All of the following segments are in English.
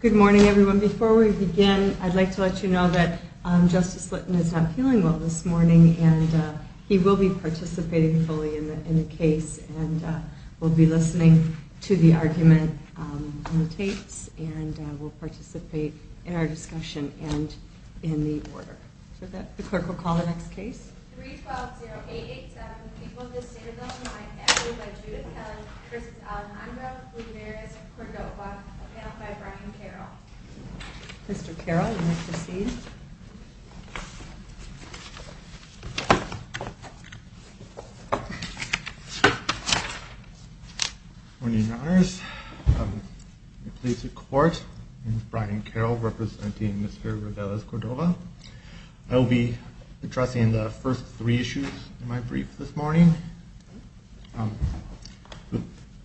Good morning, everyone. Before we begin, I'd like to let you know that Justice Litton is not feeling well this morning, and he will be participating fully in the case, and we'll be listening to the argument on the tapes, and we'll participate in our discussion and in the order. The clerk will call the next case. Case 3-120-887, People of the Citadel, Miami, acted by Judith Kelley v. Alejandro V. Reveles-Cordova, appailed by Brian Carroll. First three issues in my brief this morning.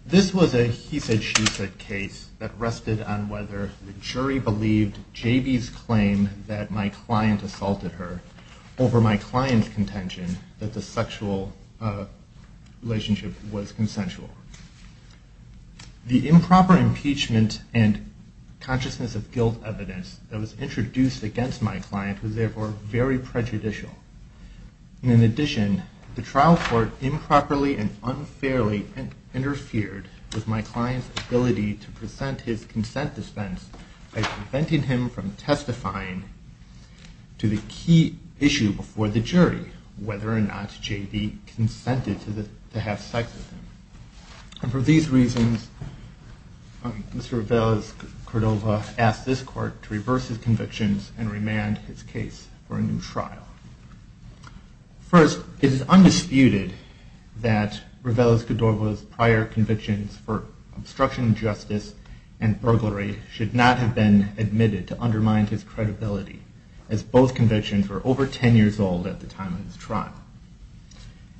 This was a he-said-she-said case that rested on whether the jury believed J.B.'s claim that my client assaulted her over my client's contention that the sexual relationship was consensual. The improper impeachment and consciousness of guilt evidence that was introduced against my client was therefore very prejudicial. In addition, the trial court improperly and unfairly interfered with my client's ability to present his consent dispense by preventing him from testifying to the key issue before the jury, whether or not J.B. consented to have sex with him. And for these reasons, Mr. Reveles-Cordova asked this court to reverse his convictions and remand his case for a new trial. First, it is undisputed that Reveles-Cordova's prior convictions for obstruction of justice and burglary should not have been admitted to undermine his credibility, as both convictions were over 10 years old at the time of his trial.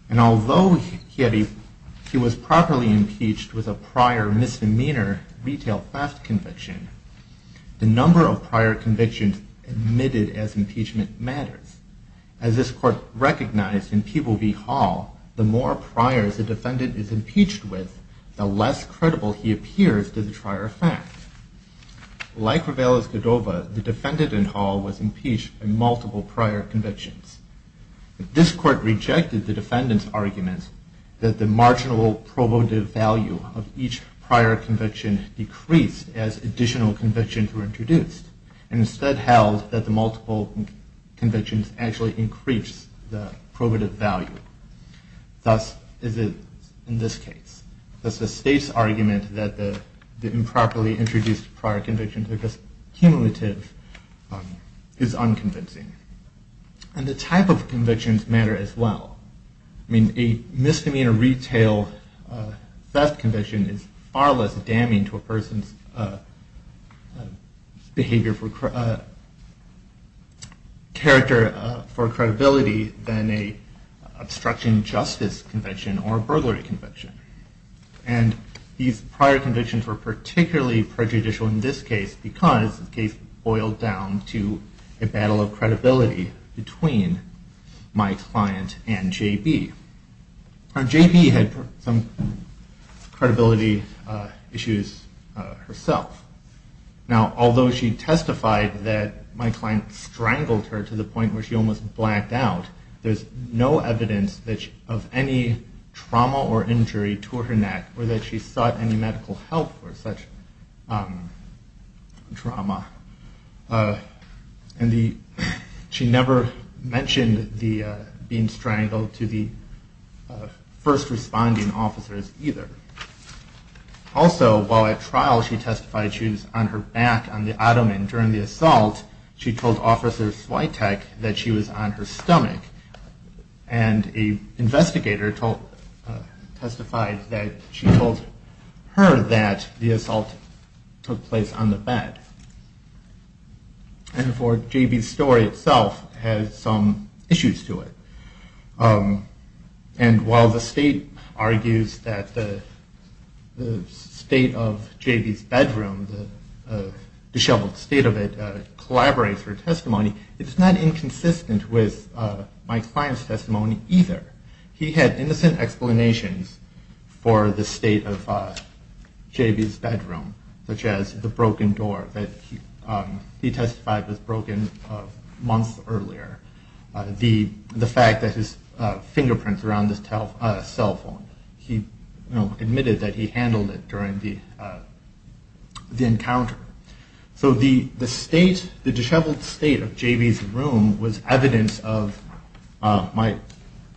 And although he was properly impeached with a prior misdemeanor retail theft conviction, the number of prior convictions admitted as impeachment matters. As this court recognized in Peabody Hall, the more priors a defendant is impeached with, the less credible he appears to the prior theft. Like Reveles-Cordova, the defendant in Hall was impeached by multiple prior convictions. This court rejected the defendant's argument that the marginal probative value of each prior conviction decreased as additional convictions were introduced, and instead held that the multiple convictions actually increased the probative value. Thus, in this case, the state's argument that the improperly introduced prior convictions are just cumulative is unconvincing. And the type of convictions matter as well. A misdemeanor retail theft conviction is far less damning to a person's character for credibility than an obstruction of justice conviction or a burglary conviction. And these prior convictions were particularly prejudicial in this case because the case boiled down to a battle of credibility between my client and JB. JB had some credibility issues herself. Now, although she testified that my client strangled her to the point where she almost blacked out, there's no evidence of any trauma or injury to her neck or that she sought any medical help for such trauma. And she never mentioned being strangled to the first responding officers either. Also, while at trial, she testified she was on her back on the ottoman during the assault. She told Officer Switek that she was on her stomach, and an investigator testified that she told her that the assault took place on the bed. And, therefore, JB's story itself has some issues to it. And while the state argues that the state of JB's bedroom, the disheveled state of it, collaborates with her testimony, it's not inconsistent with my client's testimony either. He had innocent explanations for the state of JB's bedroom, such as the broken door that he testified was broken months earlier, the fact that his fingerprints were on the cell phone. He admitted that he handled it during the encounter. So the state, the disheveled state of JB's room was evidence of my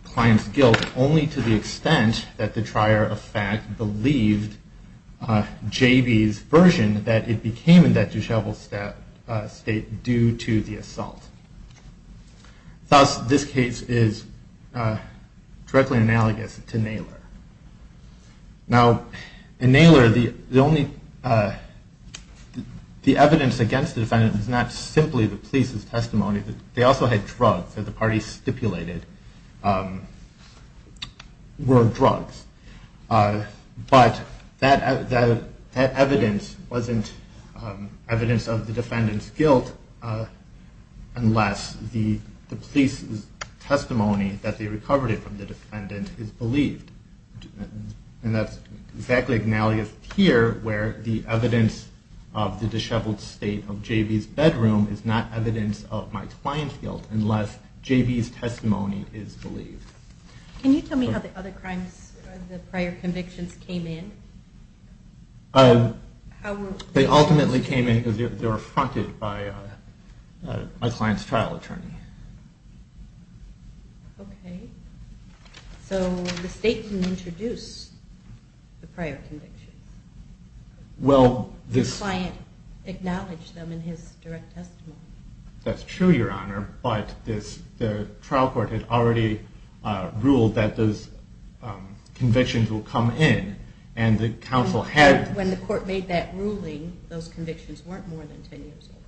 client's guilt only to the extent that the trier of fact believed JB's version that it became in that disheveled state due to the assault. Thus, this case is directly analogous to Naylor. Now, in Naylor, the evidence against the defendant was not simply the police's testimony. They also had drugs that the parties stipulated were drugs. But that evidence wasn't evidence of the defendant's guilt unless the police's testimony that they recovered it from the defendant is believed. And that's exactly analogous here where the evidence of the disheveled state of JB's bedroom is not evidence of my client's guilt unless JB's testimony is believed. Can you tell me how the other crimes, the prior convictions, came in? They ultimately came in because they were affronted by my client's trial attorney. Okay. So the state didn't introduce the prior convictions. The client acknowledged them in his direct testimony. That's true, Your Honor, but the trial court had already ruled that those convictions would come in. When the court made that ruling, those convictions weren't more than 10 years old.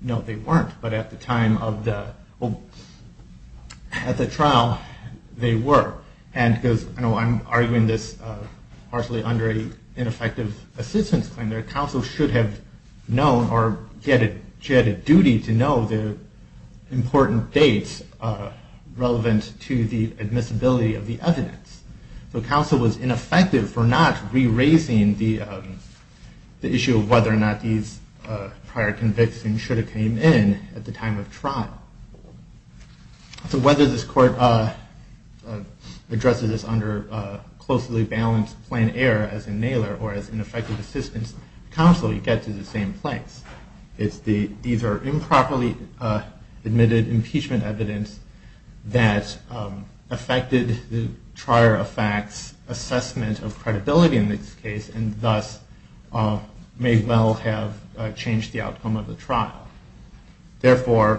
No, they weren't, but at the time of the trial, they were. I'm arguing this partially under an ineffective assistance claim. The counsel should have known or had a duty to know the important dates relevant to the admissibility of the evidence. So counsel was ineffective for not re-raising the issue of whether or not these prior convictions should have come in at the time of trial. So whether this court addresses this under closely balanced plain error, as in Naylor, or as ineffective assistance, counsel, you get to the same place. It's the either improperly admitted impeachment evidence that affected the prior effect's assessment of credibility in this case, and thus may well have changed the outcome of the trial. Therefore,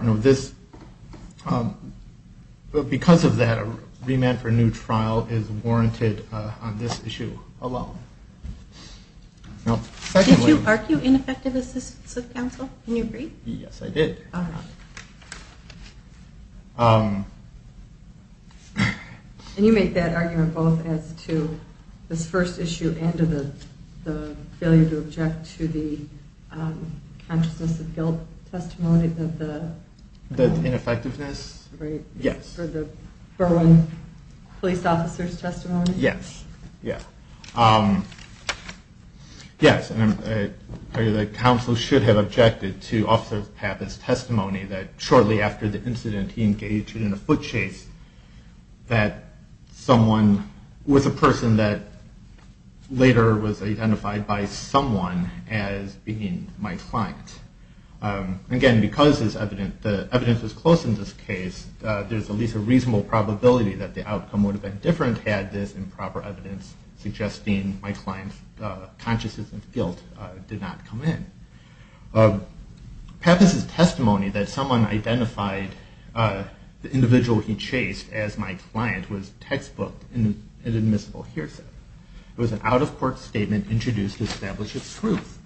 because of that, a remand for a new trial is warranted on this issue alone. Did you argue ineffective assistance with counsel? Can you agree? Yes, I did. And you make that argument both as to this first issue and the failure to object to the consciousness of guilt testimony? The ineffectiveness? Yes. For the Burwin police officer's testimony? Yes. Yes, counsel should have objected to officer's path as testimony that shortly after the incident he engaged in a foot chase with a person that later was identified by someone as being my client. Again, because the evidence was close in this case, there's at least a reasonable probability that the outcome would have been different had this improper evidence suggesting my client's consciousness of guilt did not come in. Pappas' testimony that someone identified the individual he chased as my client was textbooked in an admissible hearsay. It was an out-of-court statement introduced to establish its truth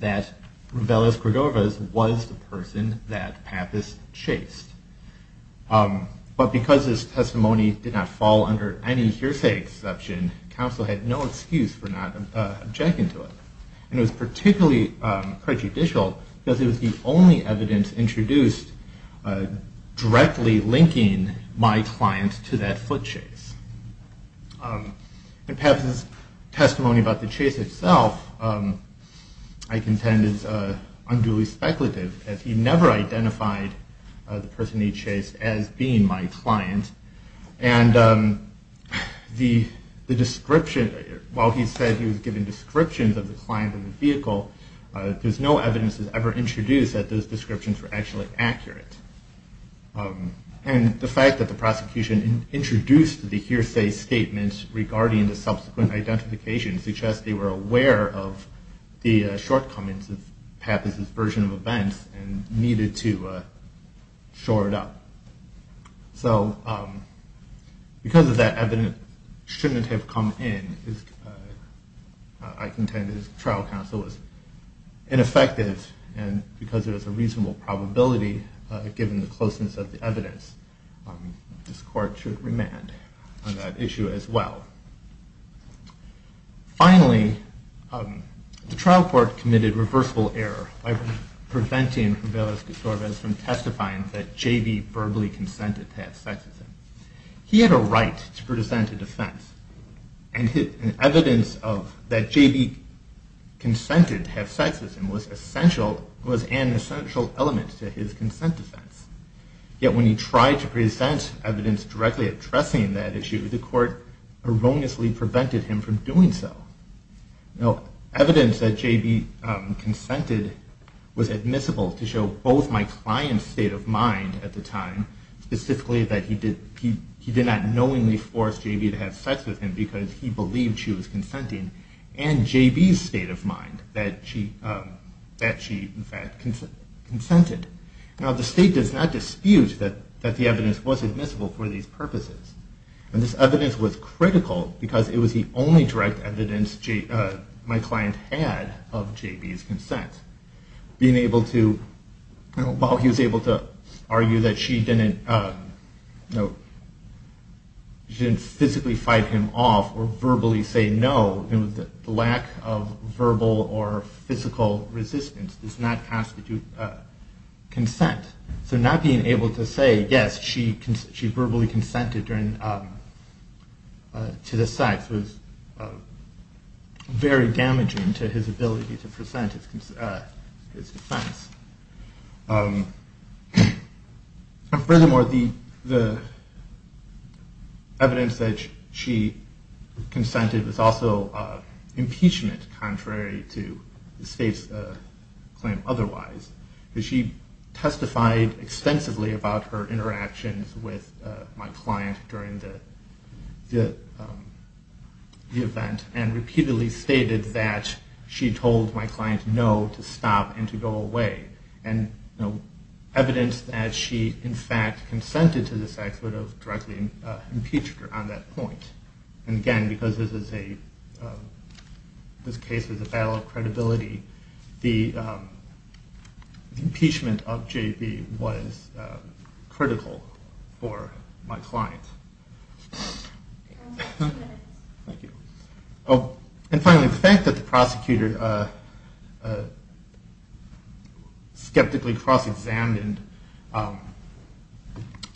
that Rubellas Gregorivas was the person that Pappas chased. But because his testimony did not fall under any hearsay exception, counsel had no excuse for not objecting to it. And it was particularly prejudicial because it was the only evidence introduced directly linking my client to that foot chase. In Pappas' testimony about the chase itself, I contend is unduly speculative as he never identified the person he chased as being my client. And the description, while he said he was given descriptions of the client and the vehicle, there's no evidence that was ever introduced that those descriptions were actually accurate. And the fact that the prosecution introduced the hearsay statement regarding the subsequent identification suggests they were aware of the shortcomings of Pappas' version of events and needed to shore it up. So because of that evidence shouldn't have come in, I contend his trial counsel was ineffective. And because there is a reasonable probability, given the closeness of the evidence, this court should remand on that issue as well. Finally, the trial court committed reversible error by preventing Rivera-Gutierrez from testifying that J.B. verbally consented to have sex with him. He had a right to present a defense, and evidence that J.B. consented to have sex with him was an essential element to his consent defense. Yet when he tried to present evidence directly addressing that issue, the court erroneously prevented him from doing so. Evidence that J.B. consented was admissible to show both my client's state of mind at the time, specifically that he did not knowingly force J.B. to have sex with him because he believed she was consenting, and J.B.'s state of mind, that she in fact consented. Now the state does not dispute that the evidence was admissible for these purposes. And this evidence was critical because it was the only direct evidence my client had of J.B.'s consent. While he was able to argue that she didn't physically fight him off or verbally say no, the lack of verbal or physical resistance does not constitute consent. So not being able to say yes, she verbally consented to the sex was very damaging to his ability to present his defense. Furthermore, the evidence that she consented was also impeachment contrary to the state's claim otherwise. She testified extensively about her interactions with my client during the event and repeatedly stated that she told my client no to stop and to go away. And evidence that she in fact consented to the sex would have directly impeached her on that point. And again, because this case is a battle of credibility, the impeachment of J.B. was critical for my client. And finally, the fact that the prosecutor skeptically cross-examined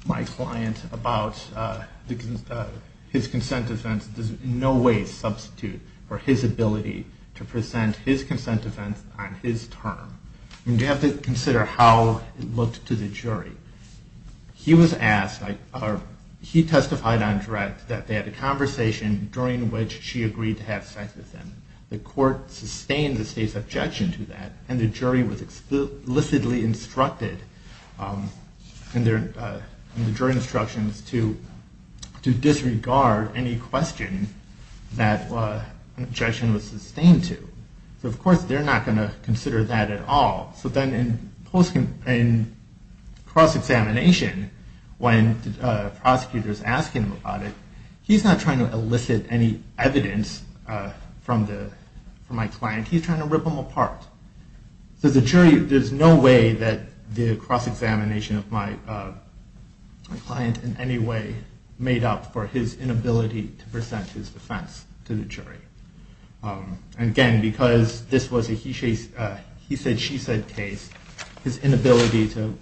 my client about his consent defense does in no way substitute for his ability to present his consent defense on his term. You have to consider how it looked to the jury. He testified on direct that they had a conversation during which she agreed to have sex with him. The court sustained the state's objection to that and the jury was explicitly instructed to disregard any question that the objection was sustained to. So of course they're not going to consider that at all. So then in cross-examination, when prosecutors ask him about it, he's not trying to elicit any evidence from my client. He's trying to rip them apart. So the jury, there's no way that the cross-examination of my client in any way made up for his inability to present his defense to the jury. And again, because this was a he-said-she-said case, his inability to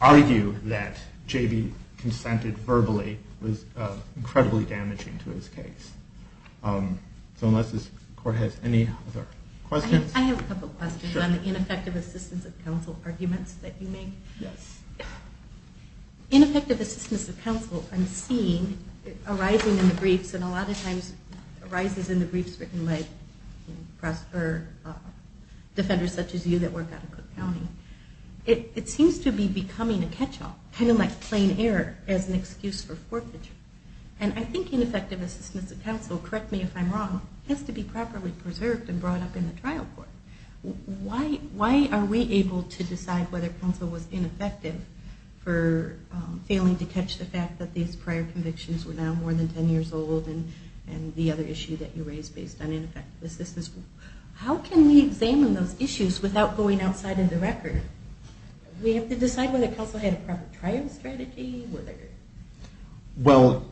argue that J.B. consented verbally was incredibly damaging to his case. So unless this court has any other questions? I have a couple questions on the ineffective assistance of counsel arguments that you made. Ineffective assistance of counsel I'm seeing arising in the briefs and a lot of times arises in the briefs written by defenders such as you that work out of Cook County. It seems to be becoming a catch-all, kind of like plain error as an excuse for forfeiture. And I think ineffective assistance of counsel, correct me if I'm wrong, has to be properly preserved and brought up in the trial court. Why are we able to decide whether counsel was ineffective for failing to catch the fact that these prior convictions were now more than 10 years old and the other issue that you raised based on ineffective assistance? How can we examine those issues without going outside of the record? We have to decide whether counsel had a proper trial strategy. Well,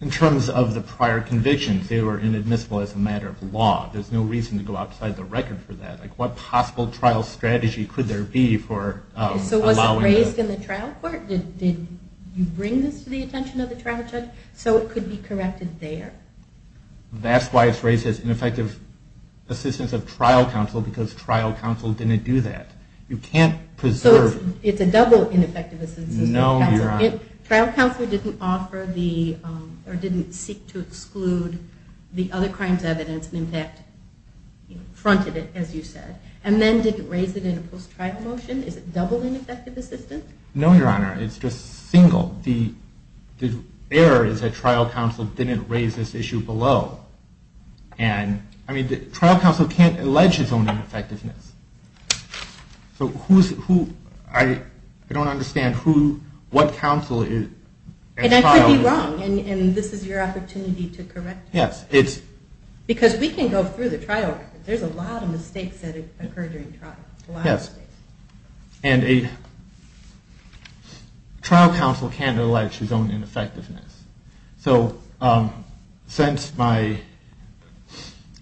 in terms of the prior convictions, they were inadmissible as a matter of law. There's no reason to go outside the record for that. What possible trial strategy could there be for allowing... So was it raised in the trial court? Did you bring this to the attention of the trial judge so it could be corrected there? That's why it's raised as ineffective assistance of trial counsel because trial counsel didn't do that. You can't preserve... So it's a double ineffective assistance. No, Your Honor. Trial counsel didn't offer the or didn't seek to exclude the other crimes evidence and in fact fronted it, as you said, and then didn't raise it in a post-trial motion? Is it double ineffective assistance? No, Your Honor. It's just single. The error is that trial counsel didn't raise this issue below. And, I mean, trial counsel can't allege its own ineffectiveness. So who's... I don't understand what counsel... And I could be wrong, and this is your opportunity to correct me. Yes. Because we can go through the trial record. There's a lot of mistakes that occur during trial, a lot of mistakes. Yes. And a trial counsel can't allege his own ineffectiveness. So since my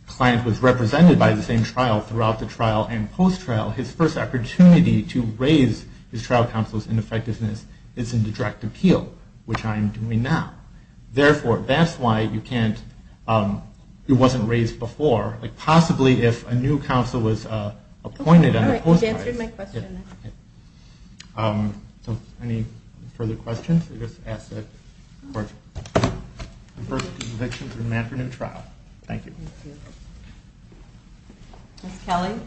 client was represented by the same trial throughout the trial and post-trial, his first opportunity to raise his trial counsel's ineffectiveness is in the direct appeal, which I am doing now. Therefore, that's why you can't... It wasn't raised before. Possibly if a new counsel was appointed on a post-trial... Okay. All right. You've answered my question. Okay. So any further questions? I guess I'll ask the court to confer the conviction for the man for new trial. Thank you. Thank you. Ms. Kelly?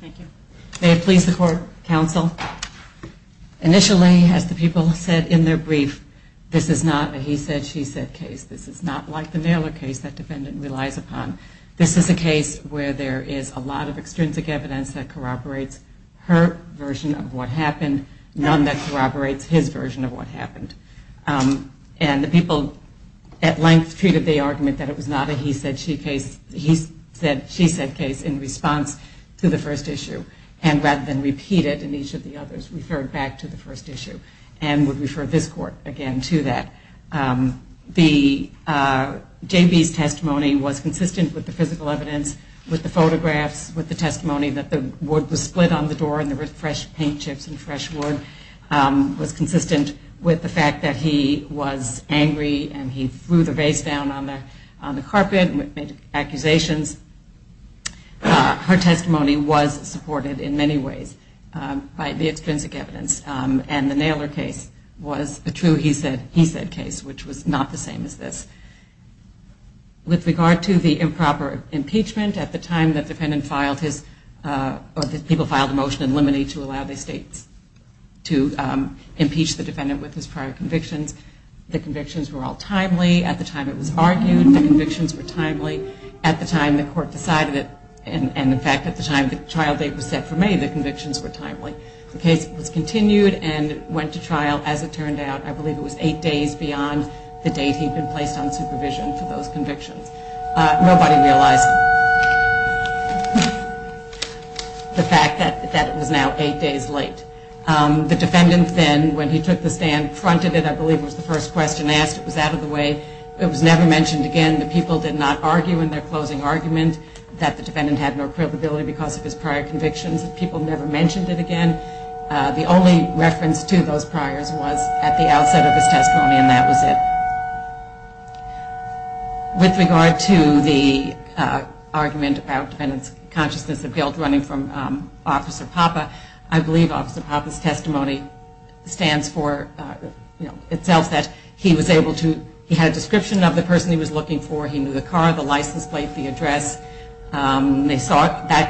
Thank you. May it please the court, counsel, initially, as the people said in their brief, this is not a he said, she said case. This is not like the Naylor case that defendant relies upon. This is a case where there is a lot of extrinsic evidence that corroborates her version of what happened, none that corroborates his version of what happened. And the people at length treated the argument that it was not a he said, she said case in response to the first issue and rather than repeat it in each of the others, referred back to the first issue and would refer this court again to that. J.B.'s testimony was consistent with the physical evidence, with the photographs, with the testimony that the wood was split on the door and there were fresh paint chips and fresh wood, was consistent with the fact that he was angry and he threw the vase down on the carpet and made accusations. Her testimony was supported in many ways by the extrinsic evidence. And the Naylor case was a true he said, he said case, which was not the same as this. With regard to the improper impeachment, at the time the defendant filed his, or the people filed a motion in limine to allow the states to impeach the defendant with his prior convictions, the convictions were all timely. At the time it was argued, the convictions were timely. At the time the court decided it, and in fact at the time the trial date was set for May, the convictions were timely. The case was continued and went to trial. As it turned out, I believe it was eight days beyond the date he had been placed on supervision for those convictions. Nobody realized the fact that it was now eight days late. The defendant then, when he took the stand, fronted it, I believe was the first question asked. It was out of the way. It was never mentioned again. The people did not argue in their closing argument that the defendant had no credibility because of his prior convictions. People never mentioned it again. The only reference to those priors was at the outset of his testimony, and that was it. With regard to the argument about defendant's consciousness of guilt running from Officer Papa, I believe Officer Papa's testimony stands for itself that he was able to, he had a description of the person he was looking for. They saw that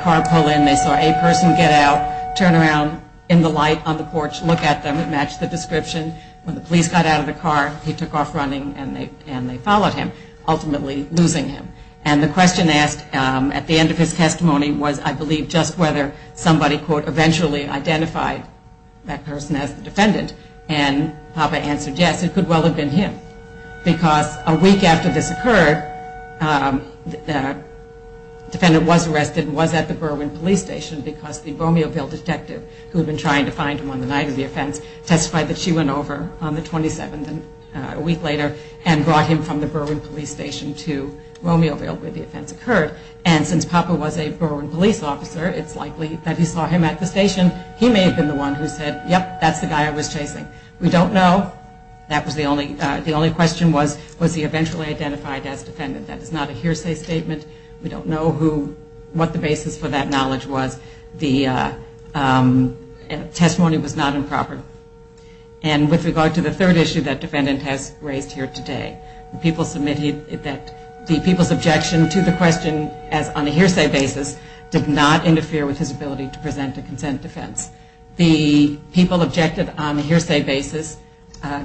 car pull in. They saw a person get out, turn around, in the light on the porch, look at them. It matched the description. When the police got out of the car, he took off running, and they followed him, ultimately losing him. And the question asked at the end of his testimony was, I believe, just whether somebody, quote, eventually identified that person as the defendant. And Papa answered yes, it could well have been him. Because a week after this occurred, the defendant was arrested and was at the Berwyn police station because the Romeoville detective, who had been trying to find him on the night of the offense, testified that she went over on the 27th, a week later, and brought him from the Berwyn police station to Romeoville where the offense occurred. And since Papa was a Berwyn police officer, it's likely that he saw him at the station. He may have been the one who said, yep, that's the guy I was chasing. We don't know. The only question was, was he eventually identified as defendant? That is not a hearsay statement. We don't know what the basis for that knowledge was. The testimony was not improper. And with regard to the third issue that defendant has raised here today, the people's objection to the question on a hearsay basis did not interfere with his ability to present a consent defense. The people objected on a hearsay basis.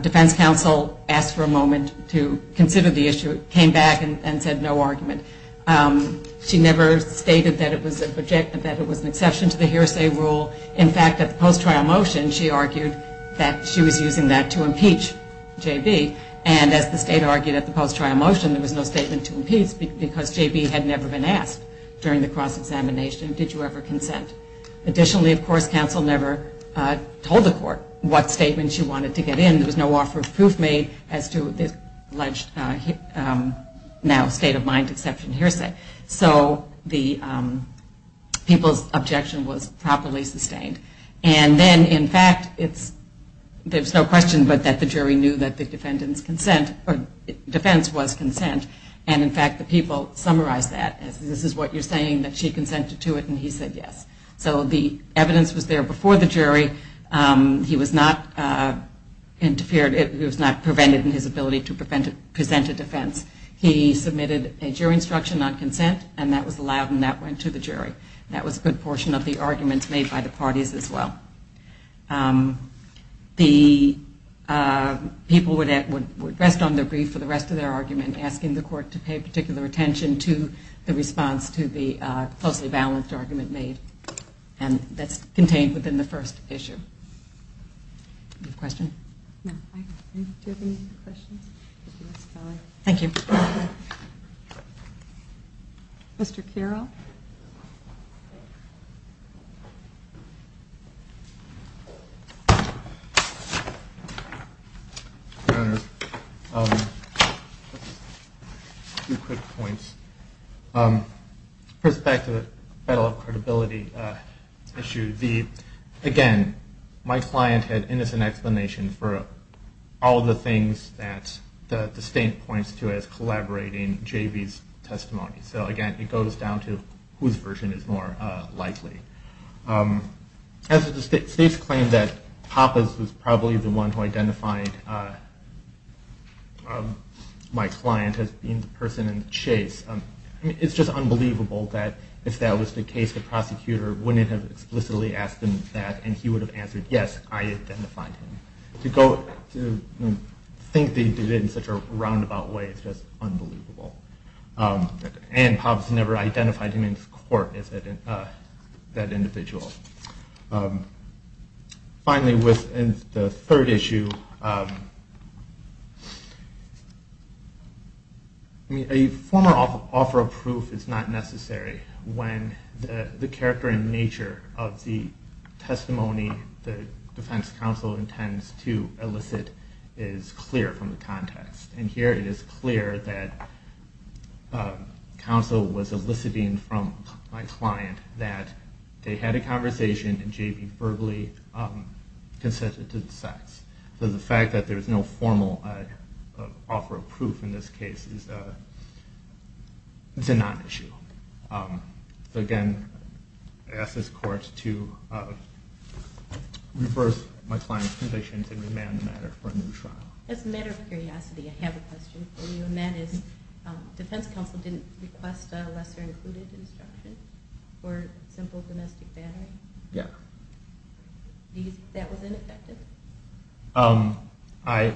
Defense counsel asked for a moment to consider the issue, came back and said no argument. She never stated that it was an exception to the hearsay rule. In fact, at the post-trial motion, she argued that she was using that to impeach J.B. And as the state argued at the post-trial motion, there was no statement to impeach because J.B. had never been asked during the cross-examination, did you ever consent. Additionally, of course, counsel never told the court what statement she wanted to get in. There was no offer of proof made as to this alleged now state of mind exception hearsay. So the people's objection was properly sustained. And then, in fact, there's no question but that the jury knew that the defendant's defense was consent. And in fact, the people summarized that. This is what you're saying, that she consented to it and he said yes. So the evidence was there before the jury. He was not prevented in his ability to present a defense. He submitted a jury instruction on consent and that was allowed and that went to the jury. That was a good portion of the arguments made by the parties as well. The people would rest on their grief for the rest of their argument, and asking the court to pay particular attention to the response to the closely balanced argument made. And that's contained within the first issue. Do you have a question? No. Do you have any questions? Thank you. Mr. Kirov? Thank you, Your Honor. Two quick points. First, back to the battle of credibility issue. Again, my client had innocent explanation for all the things that the state points to as collaborating JV's testimony. So again, it goes down to whose version is more likely. As the state's claim that Pappas was probably the one who identified my client as being the person in the chase, it's just unbelievable that if that was the case, the prosecutor wouldn't have explicitly asked him that and he would have answered yes, I identified him. To think they did it in such a roundabout way is just unbelievable. And Pappas never identified him in court as that individual. Finally, within the third issue, a formal offer of proof is not necessary when the character and nature of the testimony the defense counsel intends to elicit is clear from the context. And here it is clear that counsel was eliciting from my client that they had a conversation and JV verbally consented to the sex. So the fact that there's no formal offer of proof in this case is a non-issue. So again, I ask this court to reverse my client's positions and remand the matter for a new trial. As a matter of curiosity, I have a question for you, and that is, defense counsel didn't request a lesser included instruction for simple domestic battery? Yeah. Do you think that was ineffective? I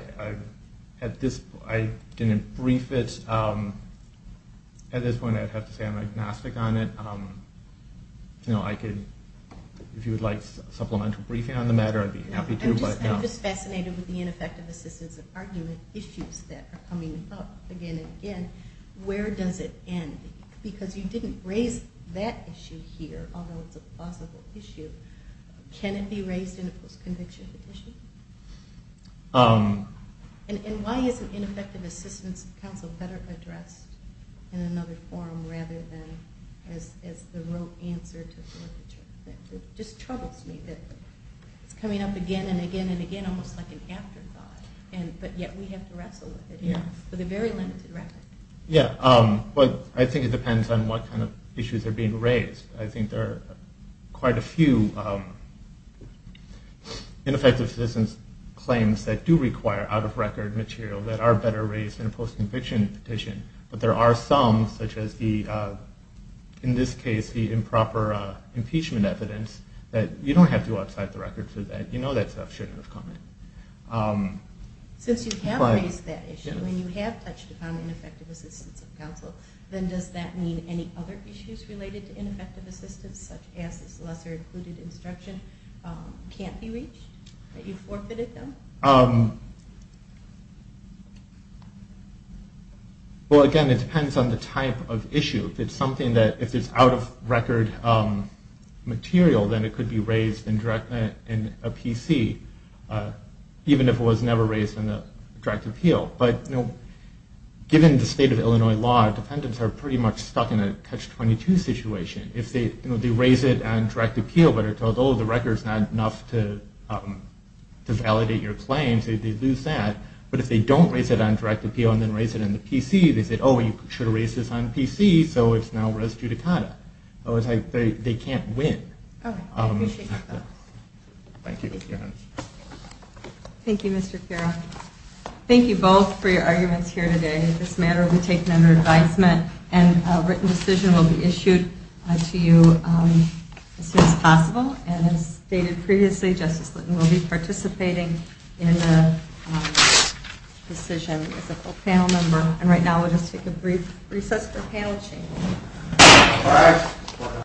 didn't brief it. At this point, I'd have to say I'm agnostic on it. If you would like supplemental briefing on the matter, I'd be happy to. I'm just fascinated with the ineffective assistance of argument issues that are coming up again and again. Where does it end? Because you didn't raise that issue here, although it's a plausible issue. Can it be raised in a post-conviction petition? And why isn't ineffective assistance of counsel better addressed in another forum rather than as the rote answer to a court decision? It just troubles me that it's coming up again and again and again, almost like an afterthought, but yet we have to wrestle with it here with a very limited record. Yeah. I think it depends on what kind of issues are being raised. I think there are quite a few ineffective assistance claims that do require out-of-record material that are better raised in a post-conviction petition. But there are some, such as in this case the improper impeachment evidence, that you don't have to go outside the record for that. You know that stuff should have come in. Since you have raised that issue and you have touched upon ineffective assistance of counsel, then does that mean any other issues related to ineffective assistance, such as this lesser-included instruction, can't be reached? That you forfeited them? Well, again, it depends on the type of issue. If it's something that, if it's out-of-record material, then it could be raised in a PC, even if it was never raised in a direct appeal. But, you know, given the state of Illinois law, defendants are pretty much stuck in a catch-22 situation. If they raise it on direct appeal but are told, oh, the record's not enough to validate your claims, they lose that. But if they don't raise it on direct appeal and then raise it in the PC, they say, oh, you should have raised this on PC, so it's now res judicata. It's like they can't win. Oh, I appreciate that. Thank you. Thank you, Mr. Kira. Thank you both for your arguments here today. This matter will be taken under advisement, and a written decision will be issued to you as soon as possible. And as stated previously, Justice Litton will be participating in the decision as a full panel member. And right now we'll just take a brief recess for panel change. All right.